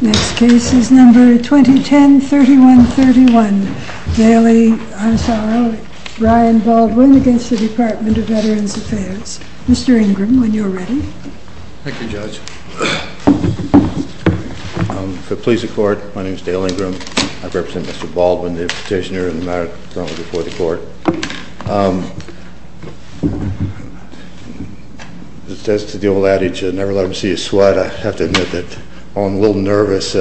Next case is number 2010-3131, Daley Ansaro, Ryan Baldwin v. Department of Veterans Affairs. Mr. Ingram, when you're ready. Thank you, Judge. For the police and court, my name is Dale Ingram. I represent Mr. Baldwin, the petitioner in the matter currently before the court. As to the old adage, never let them see you sweat, I have to admit that while I'm a little nervous,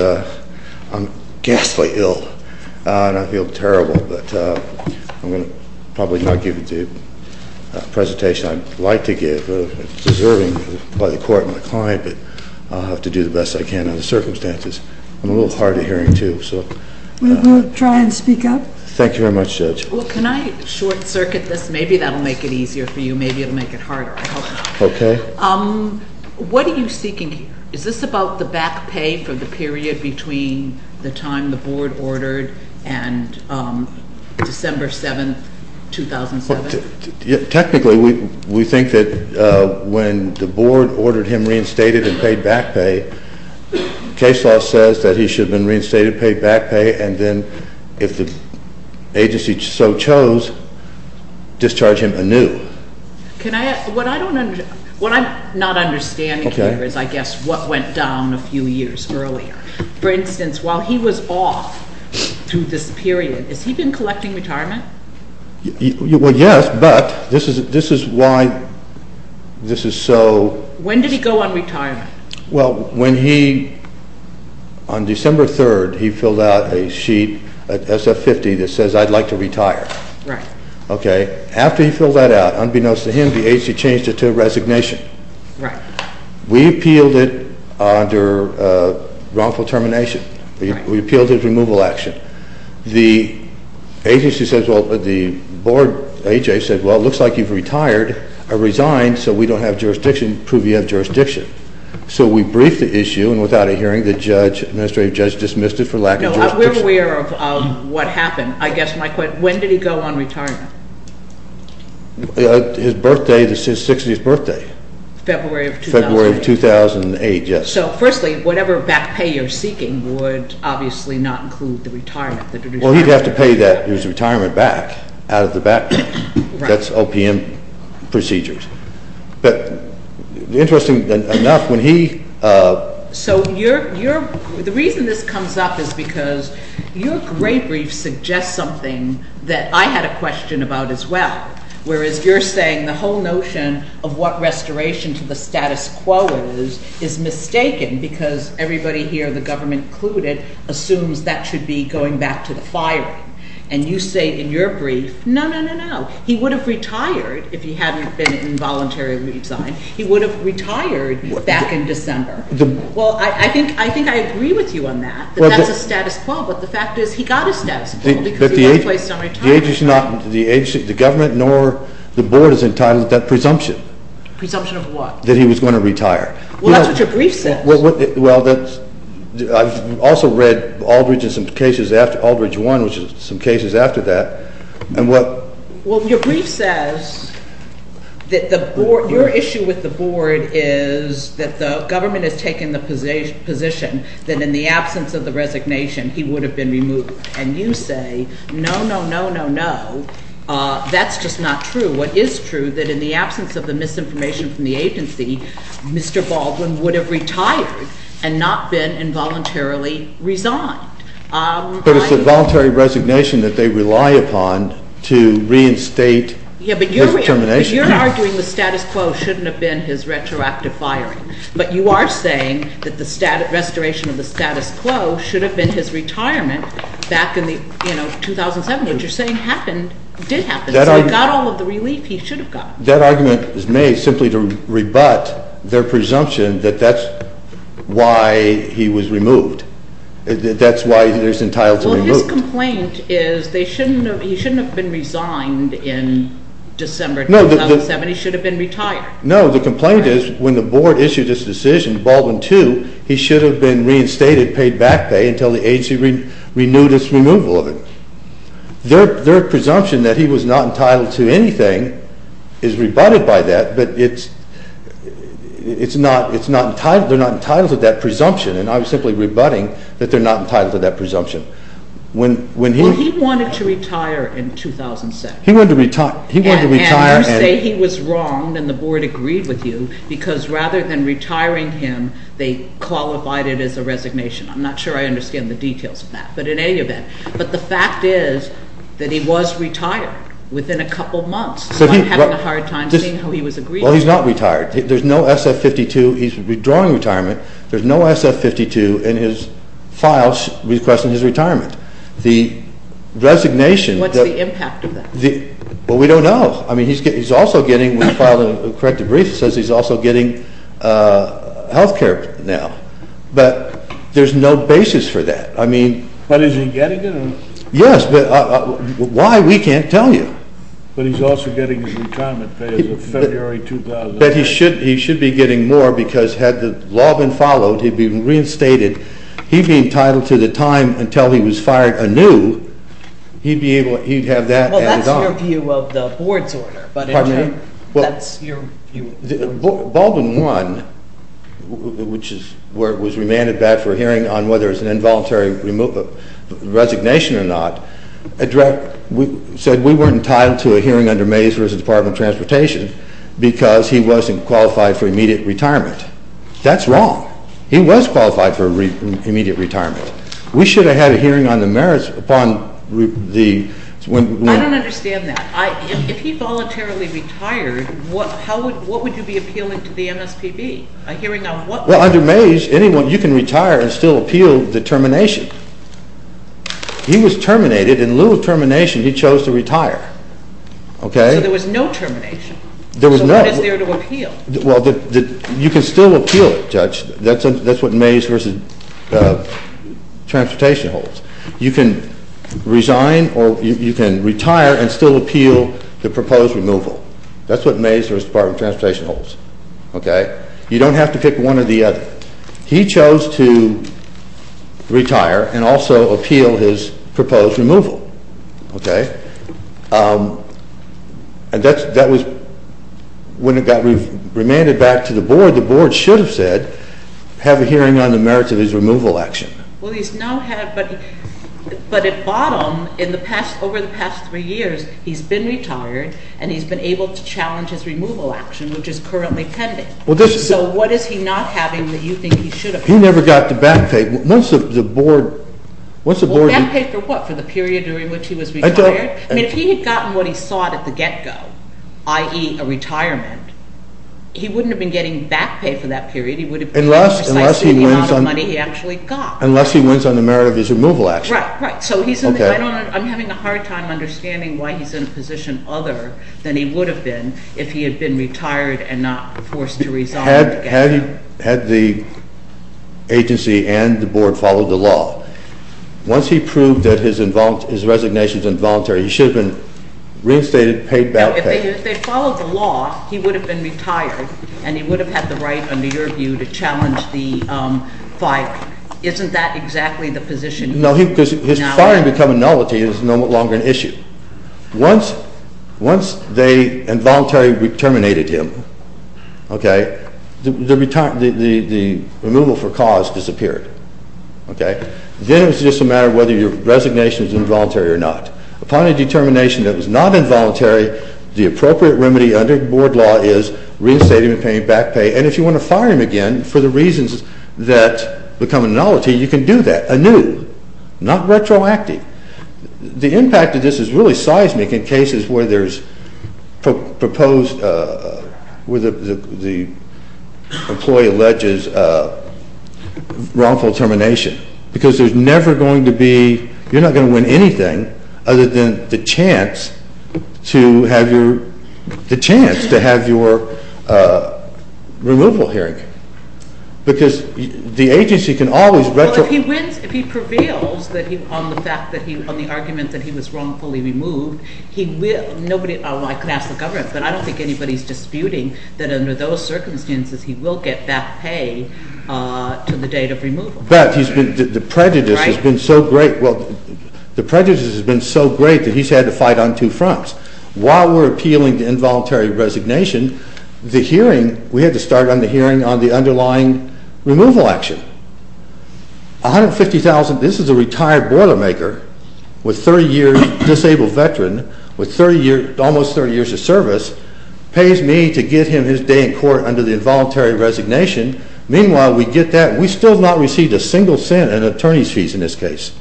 I'm ghastly ill. And I feel terrible, but I'm going to probably not give the presentation I'd like to give. It's deserving by the court and the client, but I'll have to do the best I can under the circumstances. I'm a little hard of hearing, too. We'll try and speak up. Thank you very much, Judge. Well, can I short-circuit this? Maybe that'll make it easier for you. Maybe it'll make it harder. Okay. What are you seeking? Is this about the back pay for the period between the time the board ordered and December 7, 2007? Technically, we think that when the board ordered him reinstated and paid back pay, case law says that he should have been reinstated, paid back pay, and then if the agency so chose, discharge him anew. What I'm not understanding here is, I guess, what went down a few years earlier. For instance, while he was off through this period, has he been collecting retirement? Well, yes, but this is why this is so- When did he go on retirement? Well, when he, on December 3rd, he filled out a sheet, SF-50, that says, I'd like to retire. Right. Okay. After he filled that out, unbeknownst to him, the agency changed it to a resignation. Right. We appealed it under wrongful termination. Right. We appealed it as removal action. The agency says, well, the board, AJ, said, well, it looks like you've retired. I resigned, so we don't have jurisdiction. Prove you have jurisdiction. So we briefed the issue, and without a hearing, the judge, administrative judge, dismissed it for lack of jurisdiction. No, we're aware of what happened. I guess my question, when did he go on retirement? His birthday, his 60th birthday. February of 2008. February of 2008, yes. So, firstly, whatever back pay you're seeking would obviously not include the retirement. Well, he'd have to pay that, his retirement back, out of the background. Right. That's OPM procedures. But, interestingly enough, when he- So, the reason this comes up is because your great brief suggests something that I had a question about as well, whereas you're saying the whole notion of what restoration to the status quo is, is mistaken, because everybody here, the government included, assumes that should be going back to the firing. And you say in your brief, no, no, no, no. He would have retired if he hadn't been involuntarily resigned. He would have retired back in December. Well, I think I agree with you on that, that that's a status quo. But the fact is, he got a status quo because he was placed on retirement. The agency, the government, nor the board, has entitled that presumption. Presumption of what? That he was going to retire. Well, that's what your brief says. Well, I've also read Aldridge and some cases after Aldridge 1, which is some cases after that, and what- Well, your brief says that the board, your issue with the board is that the government has taken the position that in the absence of the resignation, he would have been removed. And you say, no, no, no, no, no. That's just not true. What is true, that in the absence of the misinformation from the agency, Mr. Baldwin would have retired and not been involuntarily resigned. But it's a voluntary resignation that they rely upon to reinstate his determination. Yeah, but you're arguing the status quo shouldn't have been his retroactive firing. But you are saying that the restoration of the status quo should have been his retirement back in 2007. What you're saying happened, did happen. So it got all of the relief he should have got. That argument is made simply to rebut their presumption that that's why he was removed. That's why he was entitled to be removed. Well, his complaint is he shouldn't have been resigned in December 2007. He should have been retired. No, the complaint is when the board issued this decision, Baldwin II, he should have been reinstated, paid back pay, until the agency renewed its removal of him. Their presumption that he was not entitled to anything is rebutted by that, but it's not entitled. They're not entitled to that presumption, and I'm simply rebutting that they're not entitled to that presumption. Well, he wanted to retire in 2007. He wanted to retire. And you say he was wrong and the board agreed with you because rather than retiring him, they qualified it as a resignation. I'm not sure I understand the details of that, but in any event. But the fact is that he was retired within a couple months. He might have had a hard time seeing how he was agreed to. Well, he's not retired. There's no SF-52. He's withdrawing retirement. There's no SF-52 in his files requesting his retirement. The resignation. What's the impact of that? Well, we don't know. I mean, he's also getting, when you file a corrective brief, it says he's also getting health care now. But there's no basis for that. I mean. But is he getting it? Yes, but why, we can't tell you. But he's also getting his retirement pay as of February 2009. But he should be getting more because had the law been followed, he'd be reinstated. He'd be entitled to the time until he was fired anew. He'd have that at his own. Well, that's your view of the board's order. Pardon me? That's your view. Baldwin 1, which was remanded back for a hearing on whether it's an involuntary resignation or not, said we weren't entitled to a hearing under Mays v. Department of Transportation because he wasn't qualified for immediate retirement. That's wrong. He was qualified for immediate retirement. We should have had a hearing on the merits upon the... I don't understand that. If he voluntarily retired, what would you be appealing to the MSPB, a hearing on what... Well, under Mays, anyone, you can retire and still appeal the termination. He was terminated. In lieu of termination, he chose to retire. Okay. So there was no termination. There was no. So what is there to appeal? Well, you can still appeal it, Judge. That's what Mays v. Transportation holds. You can resign or you can retire and still appeal the proposed removal. That's what Mays v. Department of Transportation holds. Okay. You don't have to pick one or the other. He chose to retire and also appeal his proposed removal. Okay. And that was when it got remanded back to the board. The board should have said have a hearing on the merits of his removal action. Well, he's now had... But at bottom, in the past, over the past three years, he's been retired, and he's been able to challenge his removal action, which is currently pending. So what is he not having that you think he should have had? He never got the back pay. Once the board... Well, back pay for what? For the period during which he was retired? I mean, if he had gotten what he sought at the get-go, i.e., a retirement, he wouldn't have been getting back pay for that period. He would have been getting precisely the amount of money he actually got. Unless he wins on the merit of his removal action. Right, right. So I'm having a hard time understanding why he's in a position other than he would have been if he had been retired and not forced to resign. Had the agency and the board followed the law, once he proved that his resignation is involuntary, he should have been reinstated, paid back. Now, if they had followed the law, he would have been retired, and he would have had the right, under your view, to challenge the firing. Isn't that exactly the position? No, because his firing becoming nullity is no longer an issue. Once they involuntarily terminated him, the removal for cause disappeared. Then it's just a matter of whether your resignation is involuntary or not. Upon a determination that it was not involuntary, the appropriate remedy under board law is reinstating him, paying back pay, and if you want to fire him again for the reasons that become nullity, you can do that anew, not retroactive. The impact of this is really seismic in cases where there's proposed, where the employee alleges wrongful termination, because there's never going to be, you're not going to win anything other than the chance to have your removal hearing, because the agency can always retro... Well, if he wins, if he prevails on the fact that he, on the argument that he was wrongfully removed, he will, nobody, well, I can ask the government, but I don't think anybody's disputing that under those circumstances he will get back pay to the date of removal. But he's been, the prejudice has been so great, well, the prejudice has been so great that he's had to fight on two fronts. While we're appealing to involuntary resignation, the hearing, we had to start on the hearing on the underlying removal action. $150,000, this is a retired boilermaker with 30 years, disabled veteran, with 30 years, almost 30 years of service, pays me to give him his day in court under the involuntary resignation. Meanwhile, we get that, we still have not received a single cent in attorney's fees in this case.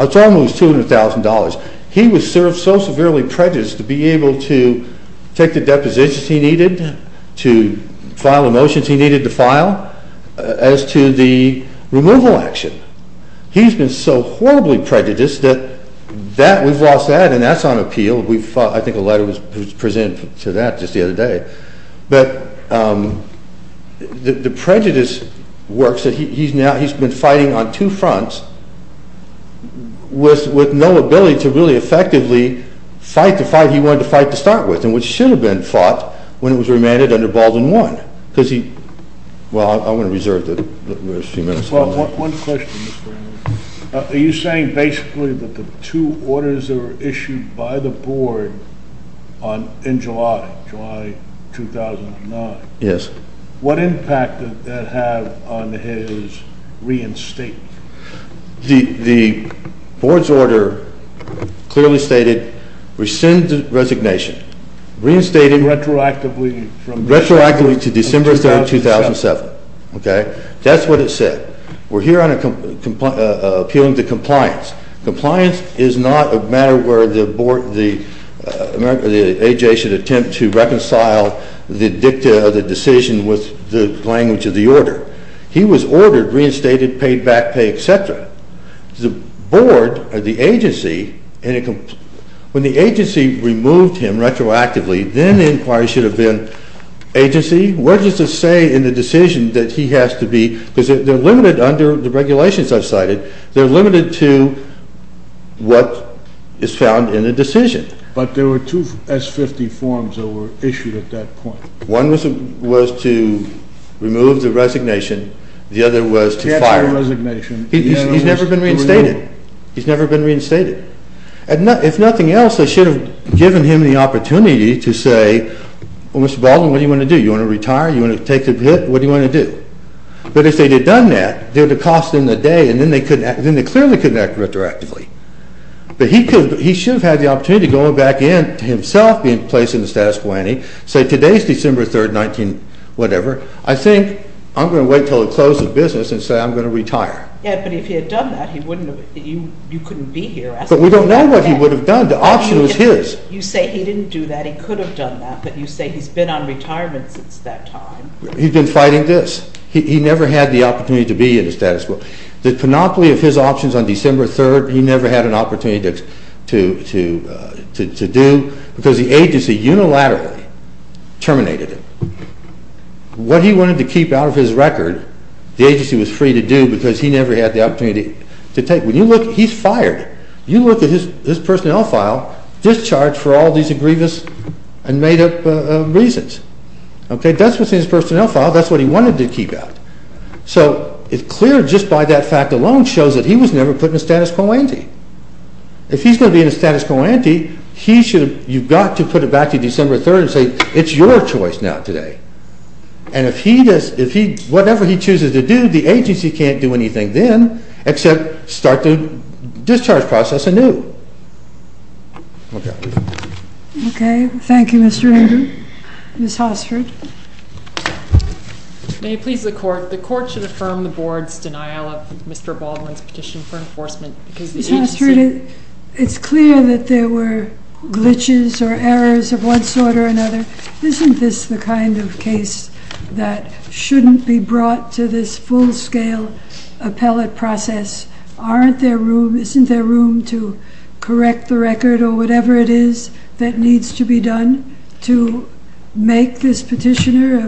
It's almost $200,000. He was served so severely prejudiced to be able to take the depositions he needed to file the motions he needed to file as to the removal action. He's been so horribly prejudiced that that, we've lost that, and that's on appeal. We've, I think a letter was presented to that just the other day. But the prejudice works that he's now, he's been fighting on two fronts with no ability to really effectively fight the fight he wanted to fight to start with and which should have been fought when he was remanded under Baldwin I. Because he, well, I'm going to reserve the few minutes. One question, Mr. Arnold. Are you saying basically that the two orders that were issued by the board in July, July 2009. Yes. What impact did that have on his reinstatement? The board's order clearly stated rescind the resignation. Reinstated. Retroactively. Retroactively to December 3, 2007. Okay. That's what it said. We're here on appealing to compliance. Compliance is not a matter where the board, the AJ should attempt to reconcile the dicta of the decision with the language of the order. He was ordered, reinstated, paid back pay, etc. The board or the agency, when the agency removed him retroactively, then the inquiry should have been agency. What does it say in the decision that he has to be, because they're limited under the regulations I've cited, they're limited to what is found in the decision. But there were two S-50 forms that were issued at that point. One was to remove the resignation. The other was to fire him. He has no resignation. He's never been reinstated. He's never been reinstated. If nothing else, they should have given him the opportunity to say, well, Mr. Baldwin, what do you want to do? You want to retire? You want to take a hit? What do you want to do? But if they had done that, there would have been a cost in the day, and then they clearly couldn't act retroactively. But he should have had the opportunity going back in, himself being placed in the status quo, and he'd say, today's December 3rd, 19-whatever. I think I'm going to wait until it closes business and say I'm going to retire. Yeah, but if he had done that, you couldn't be here asking about that. But we don't know what he would have done. The option was his. You say he didn't do that. He could have done that. But you say he's been on retirement since that time. He'd been fighting this. He never had the opportunity to be in the status quo. The panoply of his options on December 3rd, he never had an opportunity to do because the agency unilaterally terminated him. What he wanted to keep out of his record, the agency was free to do because he never had the opportunity to take. When you look, he's fired. You look at his personnel file, discharged for all these grievous and made-up reasons. That's what's in his personnel file. That's what he wanted to keep out. So it's clear just by that fact alone shows that he was never put in a status quo ante. If he's going to be in a status quo ante, you've got to put it back to December 3rd and say it's your choice now today. And whatever he chooses to do, the agency can't do anything then except start the discharge process anew. Okay. Okay. Thank you, Mr. Andrew. Ms. Hossford. May it please the court, the court should affirm the board's denial of Mr. Baldwin's petition for enforcement because the agency It's clear that there were glitches or errors of one sort or another. Isn't this the kind of case that shouldn't be brought to this full-scale appellate process? Isn't there room to correct the record or whatever it is that needs to be done to make this petitioner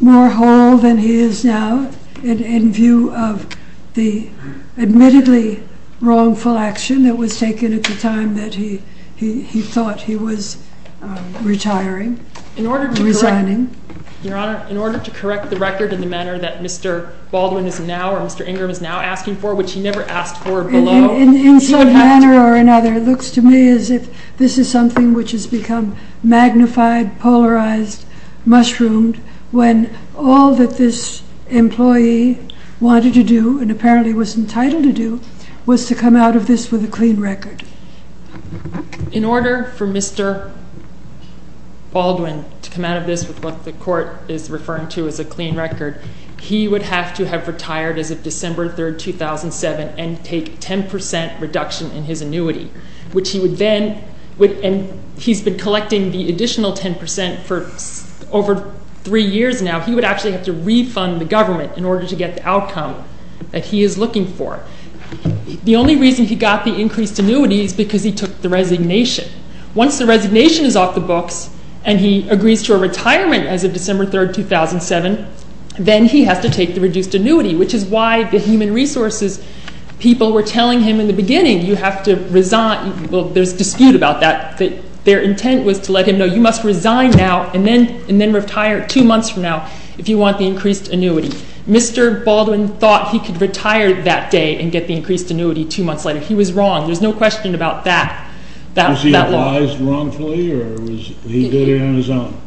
more whole than he is now in view of the admittedly wrongful action that was taken at the time that he thought he was retiring, resigning? Your Honor, in order to correct the record in the manner that Mr. Baldwin is now or Mr. Ingram is now asking for, which he never asked for below In some manner or another, it looks to me as if this is something which has become magnified, polarized, mushroomed when all that this employee wanted to do and apparently was entitled to do was to come out of this with a clean record. In order for Mr. Baldwin to come out of this with what the court is referring to as a clean record, he would have to have retired as of December 3, 2007 and take 10% reduction in his annuity, which he would then, and he's been collecting the additional 10% for over three years now He would actually have to refund the government in order to get the outcome that he is looking for. The only reason he got the increased annuity is because he took the resignation. Once the resignation is off the books and he agrees to a retirement as of December 3, 2007, then he has to take the reduced annuity which is why the Human Resources people were telling him in the beginning you have to resign, well there's dispute about that but their intent was to let him know you must resign now and then retire two months from now if you want the increased annuity. Mr. Baldwin thought he could retire that day and get the increased annuity two months later. He was wrong. There's no question about that. Was he advised wrongfully or was he doing it on his own?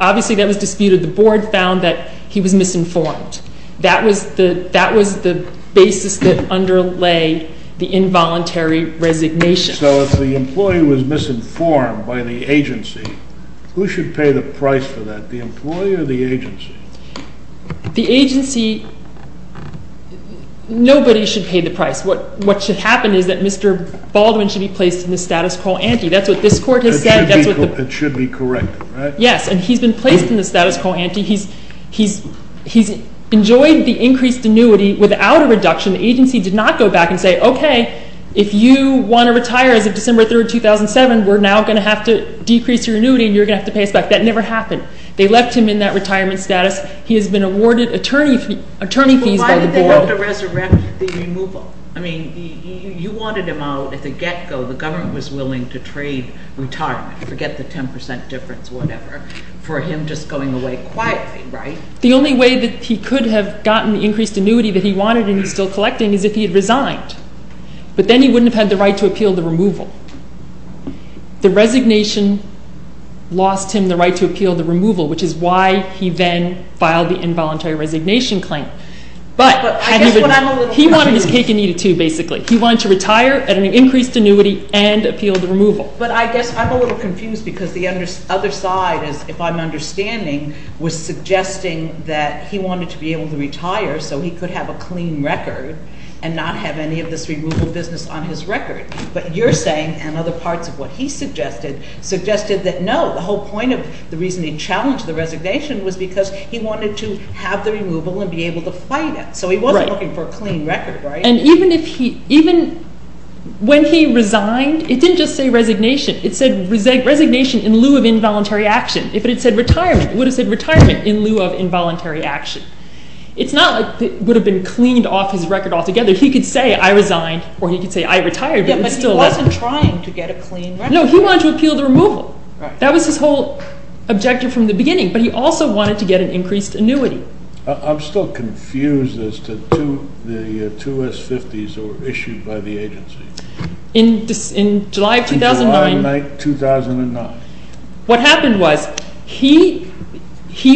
Obviously that was disputed. The board found that he was misinformed. That was the basis that underlay the involuntary resignation. So if the employee was misinformed by the agency, who should pay the price for that, the employee or the agency? The agency, nobody should pay the price. What should happen is that Mr. Baldwin should be placed in the status quo ante. That's what this court has said. It should be corrected, right? Yes, and he's been placed in the status quo ante. He's enjoyed the increased annuity without a reduction. The agency did not go back and say, okay, if you want to retire as of December 3, 2007, we're now going to have to decrease your annuity and you're going to have to pay us back. That never happened. They left him in that retirement status. He has been awarded attorney fees by the board. But why did they want to resurrect the removal? I mean, you wanted him out at the get-go. The government was willing to trade retirement, forget the 10 percent difference, whatever, for him just going away quietly, right? The only way that he could have gotten the increased annuity that he wanted and he's still collecting is if he had resigned. But then he wouldn't have had the right to appeal the removal. The resignation lost him the right to appeal the removal, which is why he then filed the involuntary resignation claim. But he wanted his cake and eat it too, basically. He wanted to retire at an increased annuity and appeal the removal. But I guess I'm a little confused because the other side, if I'm understanding, was suggesting that he wanted to be able to retire so he could have a clean record and not have any of this removal business on his record. But you're saying, and other parts of what he suggested, suggested that no, the whole point of the reason he challenged the resignation was because he wanted to have the removal and be able to fight it. So he wasn't looking for a clean record, right? And even when he resigned, it didn't just say resignation. It said resignation in lieu of involuntary action. If it had said retirement, it would have said retirement in lieu of involuntary action. It's not like it would have been cleaned off his record altogether. He could say, I resigned, or he could say, I retired. Yeah, but he wasn't trying to get a clean record. No, he wanted to appeal the removal. That was his whole objective from the beginning. But he also wanted to get an increased annuity. I'm still confused as to the two S-50s that were issued by the agency. In July of 2009. July 9, 2009. What happened was he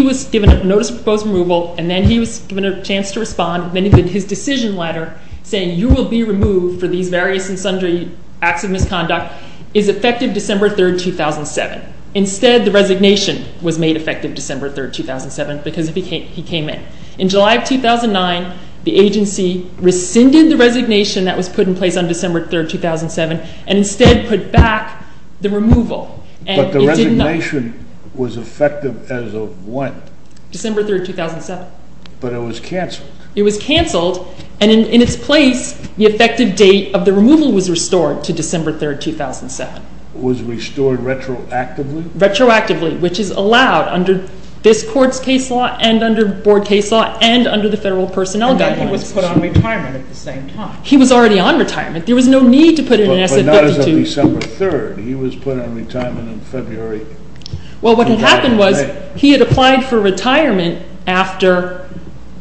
was given notice of proposed removal, and then he was given a chance to respond. Then his decision letter saying you will be removed for these various and sundry acts of misconduct is effective December 3, 2007. Instead, the resignation was made effective December 3, 2007 because he came in. In July of 2009, the agency rescinded the resignation that was put in place on December 3, 2007, and instead put back the removal. But the resignation was effective as of when? December 3, 2007. But it was canceled. It was canceled, and in its place, the effective date of the removal was restored to December 3, 2007. It was restored retroactively? Retroactively, which is allowed under this court's case law and under board case law and under the Federal Personnel Guidelines. And then he was put on retirement at the same time. He was already on retirement. There was no need to put in an S-52. But not as of December 3. He was put on retirement in February. Well, what had happened was he had applied for retirement after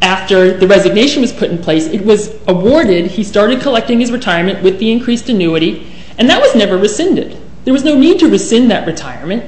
the resignation was put in place. It was awarded. He started collecting his retirement with the increased annuity, and that was never rescinded. There was no need to rescind that retirement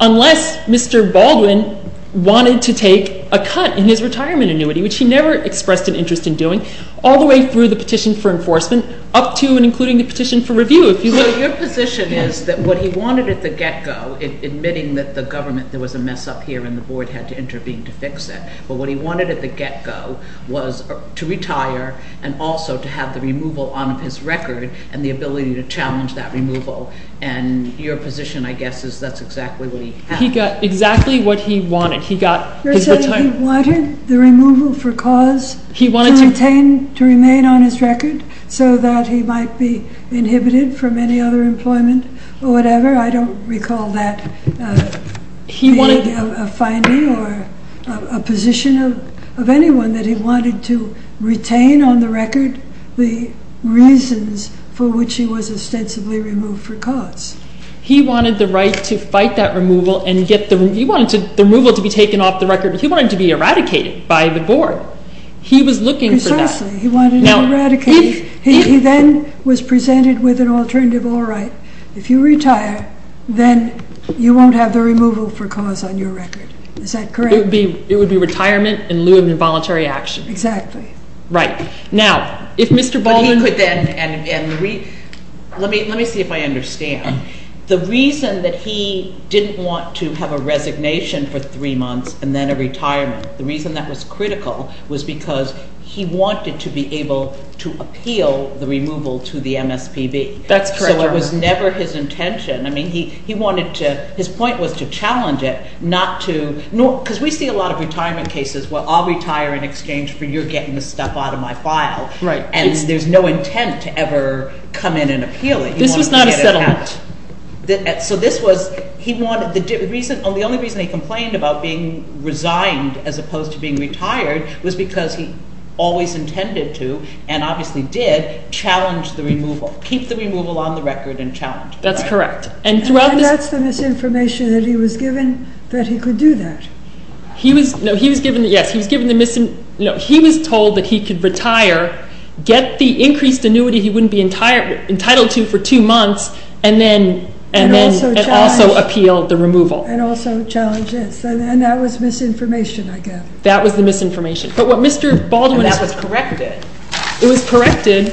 unless Mr. Baldwin wanted to take a cut in his retirement annuity, which he never expressed an interest in doing, all the way through the petition for enforcement up to and including the petition for review. So your position is that what he wanted at the get-go, admitting that the government, there was a mess up here and the board had to intervene to fix it, but what he wanted at the get-go was to retire and also to have the removal on his record and the ability to challenge that removal. And your position, I guess, is that's exactly what he had. He got exactly what he wanted. You're saying he wanted the removal for cause to remain on his record so that he might be inhibited from any other employment or whatever? I don't recall that being a finding or a position of anyone that he wanted to retain on the record the reasons for which he was ostensibly removed for cause. He wanted the right to fight that removal and get the removal to be taken off the record. He wanted to be eradicated by the board. He was looking for that. Precisely. He wanted to eradicate. He then was presented with an alternative law right. If you retire, then you won't have the removal for cause on your record. Is that correct? It would be retirement in lieu of involuntary action. Exactly. Right. Now, if Mr. Baldwin... Let me see if I understand. The reason that he didn't want to have a resignation for three months and then a retirement, the reason that was critical was because he wanted to be able to appeal the removal to the MSPB. That's correct. So it was never his intention. I mean, he wanted to, his point was to challenge it not to, because we see a lot of retirement cases where I'll retire in exchange for your getting the stuff out of my file. Right. And there's no intent to ever come in and appeal it. This was not a settlement. So this was, the only reason he complained about being resigned as opposed to being retired was because he always intended to, and obviously did, challenge the removal. Keep the removal on the record and challenge. That's correct. And that's the misinformation that he was given that he could do that. No, he was given the, yes, he was given the, no, he was told that he could retire, get the increased annuity he wouldn't be entitled to for two months, and then also appeal the removal. And also challenge this. And that was misinformation, I guess. That was the misinformation. But what Mr. Baldwin... And that was corrected. It was corrected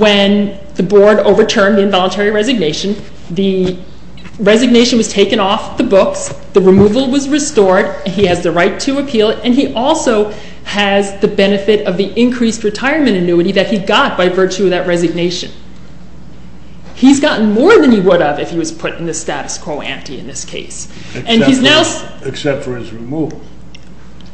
when the board overturned the involuntary resignation. The resignation was taken off the books. The removal was restored. He has the right to appeal it. And he also has the benefit of the increased retirement annuity that he got by virtue of that resignation. He's gotten more than he would have if he was put in the status quo ante in this case. Except for his removal.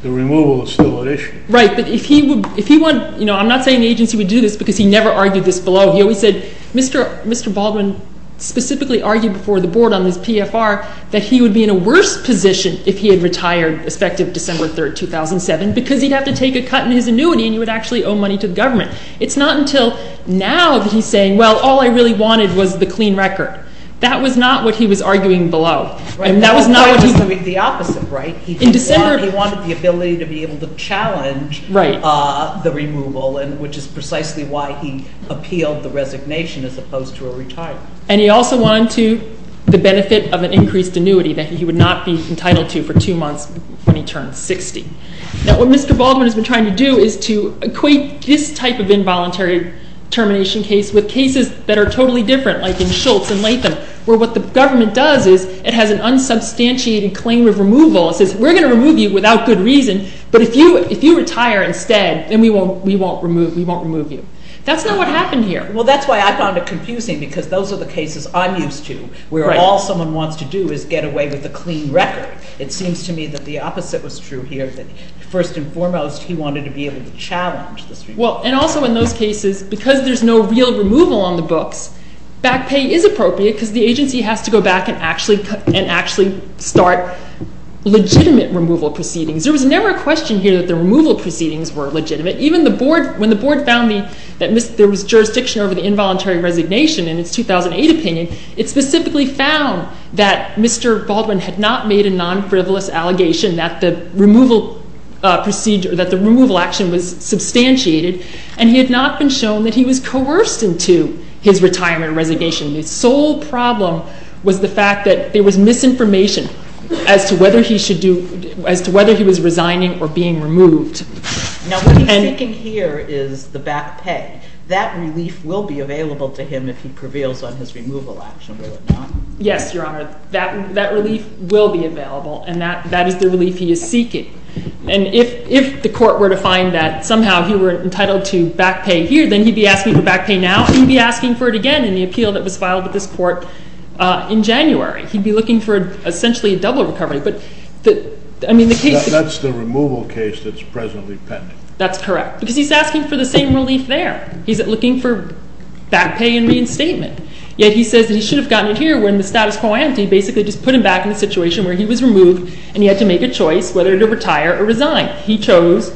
The removal is still an issue. Right, but if he would, if he would, you know, I'm not saying the agency would do this because he never argued this below. He always said, Mr. Baldwin specifically argued before the board on this PFR that he would be in a worse position if he had retired, effective December 3, 2007, because he'd have to take a cut in his annuity and he would actually owe money to the government. It's not until now that he's saying, well, all I really wanted was the clean record. That was not what he was arguing below. And that was not what he... The opposite, right? In December... He wanted the ability to be able to challenge the removal, which is precisely why he appealed the resignation as opposed to a retirement. And he also wanted the benefit of an increased annuity that he would not be entitled to for two months when he turned 60. Now, what Mr. Baldwin has been trying to do is to equate this type of involuntary termination case with cases that are totally different, like in Schultz and Latham, where what the government does is it has an unsubstantiated claim of removal. It says, we're going to remove you without good reason, but if you retire instead, then we won't remove you. That's not what happened here. Well, that's why I found it confusing, because those are the cases I'm used to where all someone wants to do is get away with a clean record. It seems to me that the opposite was true here, that first and foremost, he wanted to be able to challenge this removal. Well, and also in those cases, because there's no real removal on the books, back pay is appropriate because the agency has to go back and actually start legitimate removal proceedings. There was never a question here that the removal proceedings were legitimate. When the board found that there was jurisdiction over the involuntary resignation in its 2008 opinion, it specifically found that Mr. Baldwin had not made a non-frivolous allegation that the removal action was substantiated, and he had not been shown that he was coerced into his retirement or resignation. The sole problem was the fact that there was misinformation as to whether he was resigning or being removed. Now, what he's seeking here is the back pay. That relief will be available to him if he prevails on his removal action, will it not? Yes, Your Honor. That relief will be available, and that is the relief he is seeking. And if the court were to find that somehow he were entitled to back pay here, then he'd be asking for back pay now, and he'd be asking for it again in the appeal that was filed with this court in January. He'd be looking for essentially a double recovery. That's the removal case that's presently pending. That's correct, because he's asking for the same relief there. He's looking for back pay and reinstatement. Yet he says that he should have gotten it here when the status quo ends. He basically just put him back in the situation where he was removed, and he had to make a choice whether to retire or resign. He chose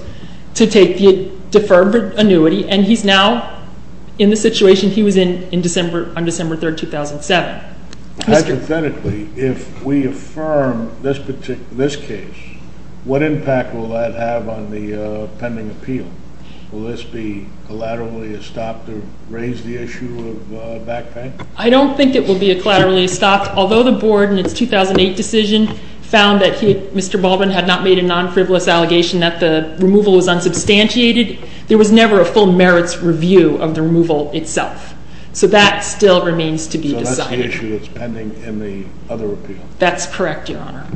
to take the deferred annuity, and he's now in the situation he was in on December 3, 2007. Now, hypothetically, if we affirm this case, what impact will that have on the pending appeal? Will this be collaterally a stop to raise the issue of back pay? I don't think it will be collaterally stopped. Although the board in its 2008 decision found that Mr. Baldwin had not made a non-frivolous allegation that the removal was unsubstantiated, there was never a full merits review of the removal itself. So that still remains to be decided. So that's the issue that's pending in the other appeal? That's correct, Your Honor.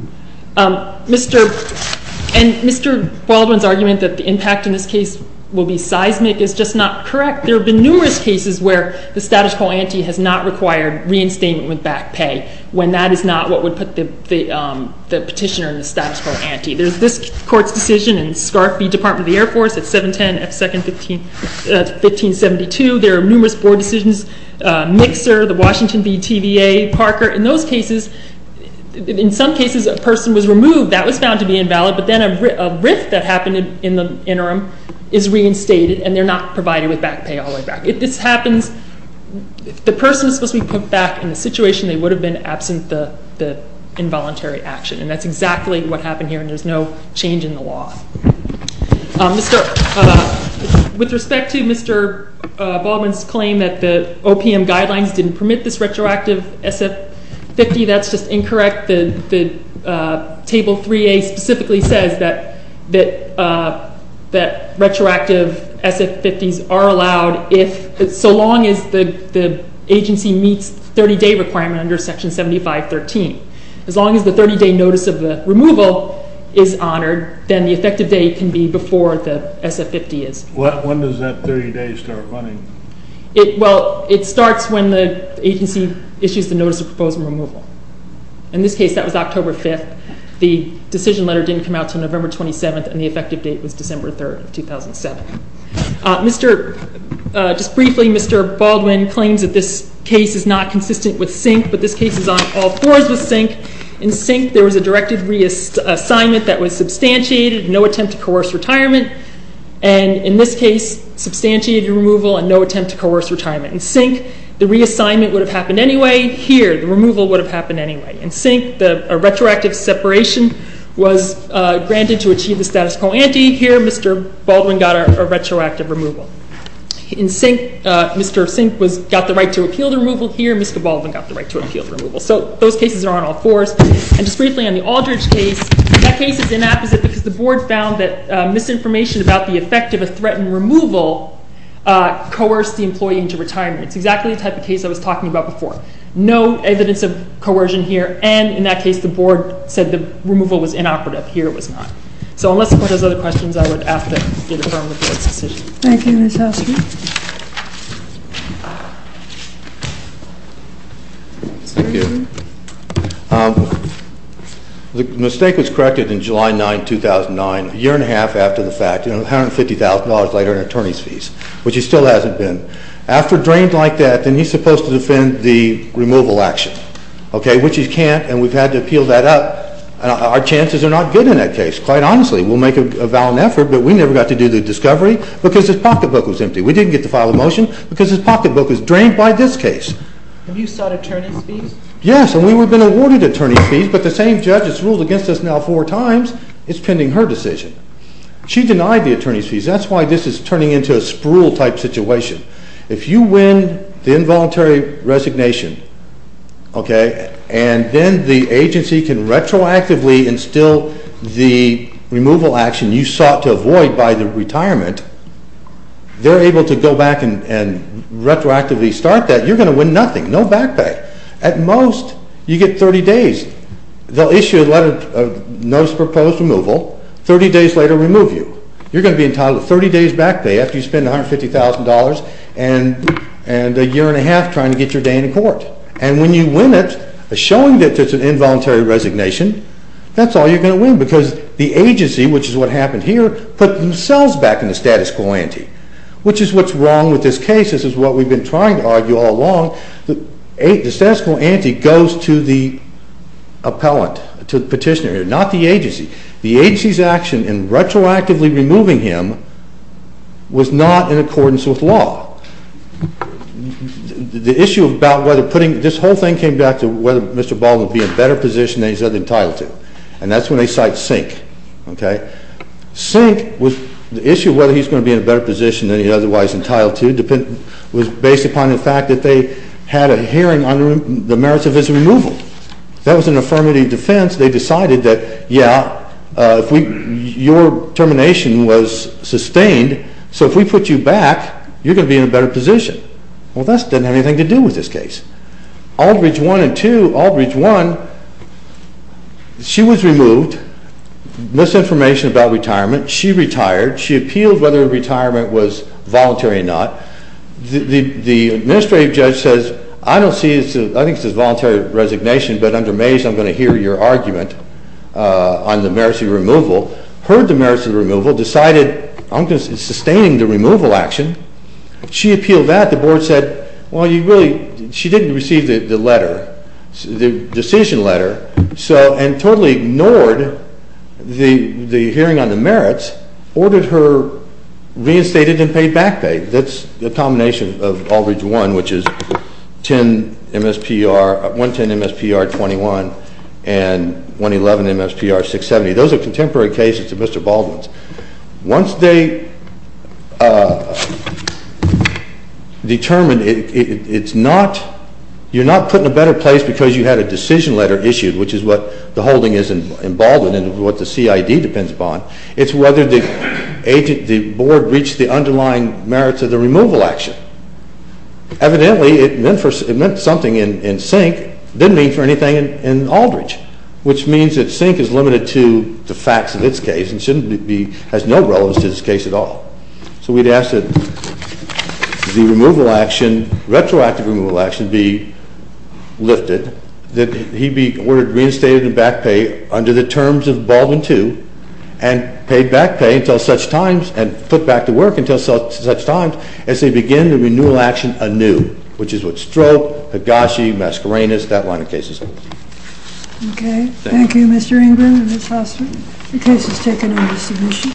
And Mr. Baldwin's argument that the impact in this case will be seismic is just not correct. There have been numerous cases where the status quo ante has not required reinstatement with back pay, when that is not what would put the petitioner in the status quo ante. There's this court's decision in Scarf v. Department of the Air Force at 710 F. Second 1572. There are numerous board decisions, Mixer, the Washington v. TVA, Parker. In those cases, in some cases, a person was removed. That was found to be invalid. But then a rift that happened in the interim is reinstated, and they're not provided with back pay all the way back. If this happens, if the person is supposed to be put back in the situation, they would have been absent the involuntary action. And that's exactly what happened here, and there's no change in the law. With respect to Mr. Baldwin's claim that the OPM guidelines didn't permit this retroactive SF-50, that's just incorrect. Table 3A specifically says that retroactive SF-50s are allowed so long as the agency meets the 30-day requirement under Section 7513. As long as the 30-day notice of the removal is honored, then the effective date can be before the SF-50 is. When does that 30 days start running? Well, it starts when the agency issues the notice of proposed removal. In this case, that was October 5th. The decision letter didn't come out until November 27th, and the effective date was December 3rd of 2007. Just briefly, Mr. Baldwin claims that this case is not consistent with SINC, but this case is on all fours with SINC. In SINC, there was a directive reassignment that was substantiated, no attempt to coerce retirement. And in this case, substantiated removal and no attempt to coerce retirement. In SINC, the reassignment would have happened anyway. Here, the removal would have happened anyway. In SINC, a retroactive separation was granted to achieve the status quo ante. Here, Mr. Baldwin got a retroactive removal. In SINC, Mr. SINC got the right to appeal the removal. Here, Mr. Baldwin got the right to appeal the removal. So, those cases are on all fours. And just briefly, on the Aldridge case, that case is inapposite because the board found that misinformation about the effect of a threatened removal coerced the employee into retirement. It's exactly the type of case I was talking about before. No evidence of coercion here, and in that case, the board said the removal was inoperative. Here, it was not. So, unless the board has other questions, I would ask that you defer to the board's decision. Thank you, Mr. Oster. Thank you. The mistake was corrected in July 9, 2009, a year and a half after the fact, $150,000 later in attorney's fees, which it still hasn't been. After a drain like that, then he's supposed to defend the removal action, okay, which he can't, and we've had to appeal that up. Our chances are not good in that case, quite honestly. We'll make a valid effort, but we never got to do the discovery because his pocketbook was empty. We didn't get to file a motion because his pocketbook was drained by this case. Have you sought attorney's fees? Yes, and we would have been awarded attorney's fees, but the same judge has ruled against us now four times. It's pending her decision. She denied the attorney's fees. That's why this is turning into a sprual-type situation. If you win the involuntary resignation, okay, and then the agency can retroactively instill the removal action you sought to avoid by the retirement, they're able to go back and retroactively start that. You're going to win nothing, no back pay. At most, you get 30 days. They'll issue a notice of proposed removal, 30 days later remove you. You're going to be entitled to 30 days back pay after you spend $150,000 and a year and a half trying to get your day in court. And when you win it, showing that it's an involuntary resignation, that's all you're going to win because the agency, which is what happened here, put themselves back in the status quo ante, which is what's wrong with this case. This is what we've been trying to argue all along. The status quo ante goes to the appellant, to the petitioner, not the agency. The agency's action in retroactively removing him was not in accordance with law. The issue about whether putting – this whole thing came back to whether Mr. Baldwin would be in a better position than he's entitled to, and that's when they cite Sink, okay? Sink was – the issue of whether he's going to be in a better position than he's otherwise entitled to was based upon the fact that they had a hearing on the merits of his removal. That was an affirmative defense. They decided that, yeah, if we – your termination was sustained, so if we put you back, you're going to be in a better position. Well, that doesn't have anything to do with this case. Aldridge 1 and 2 – Aldridge 1, she was removed, misinformation about retirement. She retired. She appealed whether her retirement was voluntary or not. The administrative judge says, I don't see – I think this is voluntary resignation, but under Mays I'm going to hear your argument on the merits of your removal. Heard the merits of the removal, decided, I'm going to – it's sustaining the removal action. She appealed that. The board said, well, you really – she didn't receive the letter, the decision letter, and totally ignored the hearing on the merits, ordered her reinstated and paid back pay. That's a combination of Aldridge 1, which is 110 MSPR 21 and 111 MSPR 670. Those are contemporary cases to Mr. Baldwin's. Once they determine it's not – you're not put in a better place because you had a decision letter issued, which is what the holding is in Baldwin and what the CID depends upon. It's whether the board reached the underlying merits of the removal action. Evidently, it meant something in Sink. It didn't mean for anything in Aldridge, which means that Sink is limited to the facts of its case and shouldn't be – has no relevance to this case at all. So we'd ask that the removal action, retroactive removal action, be lifted, that he be reinstated and back pay under the terms of Baldwin 2 and paid back pay until such times and put back to work until such times as they begin the renewal action anew, which is what Stroke, Higashi, Mascarenas, that line of cases hold. Okay. Thank you, Mr. Ingram and his husband. The case is taken into submission.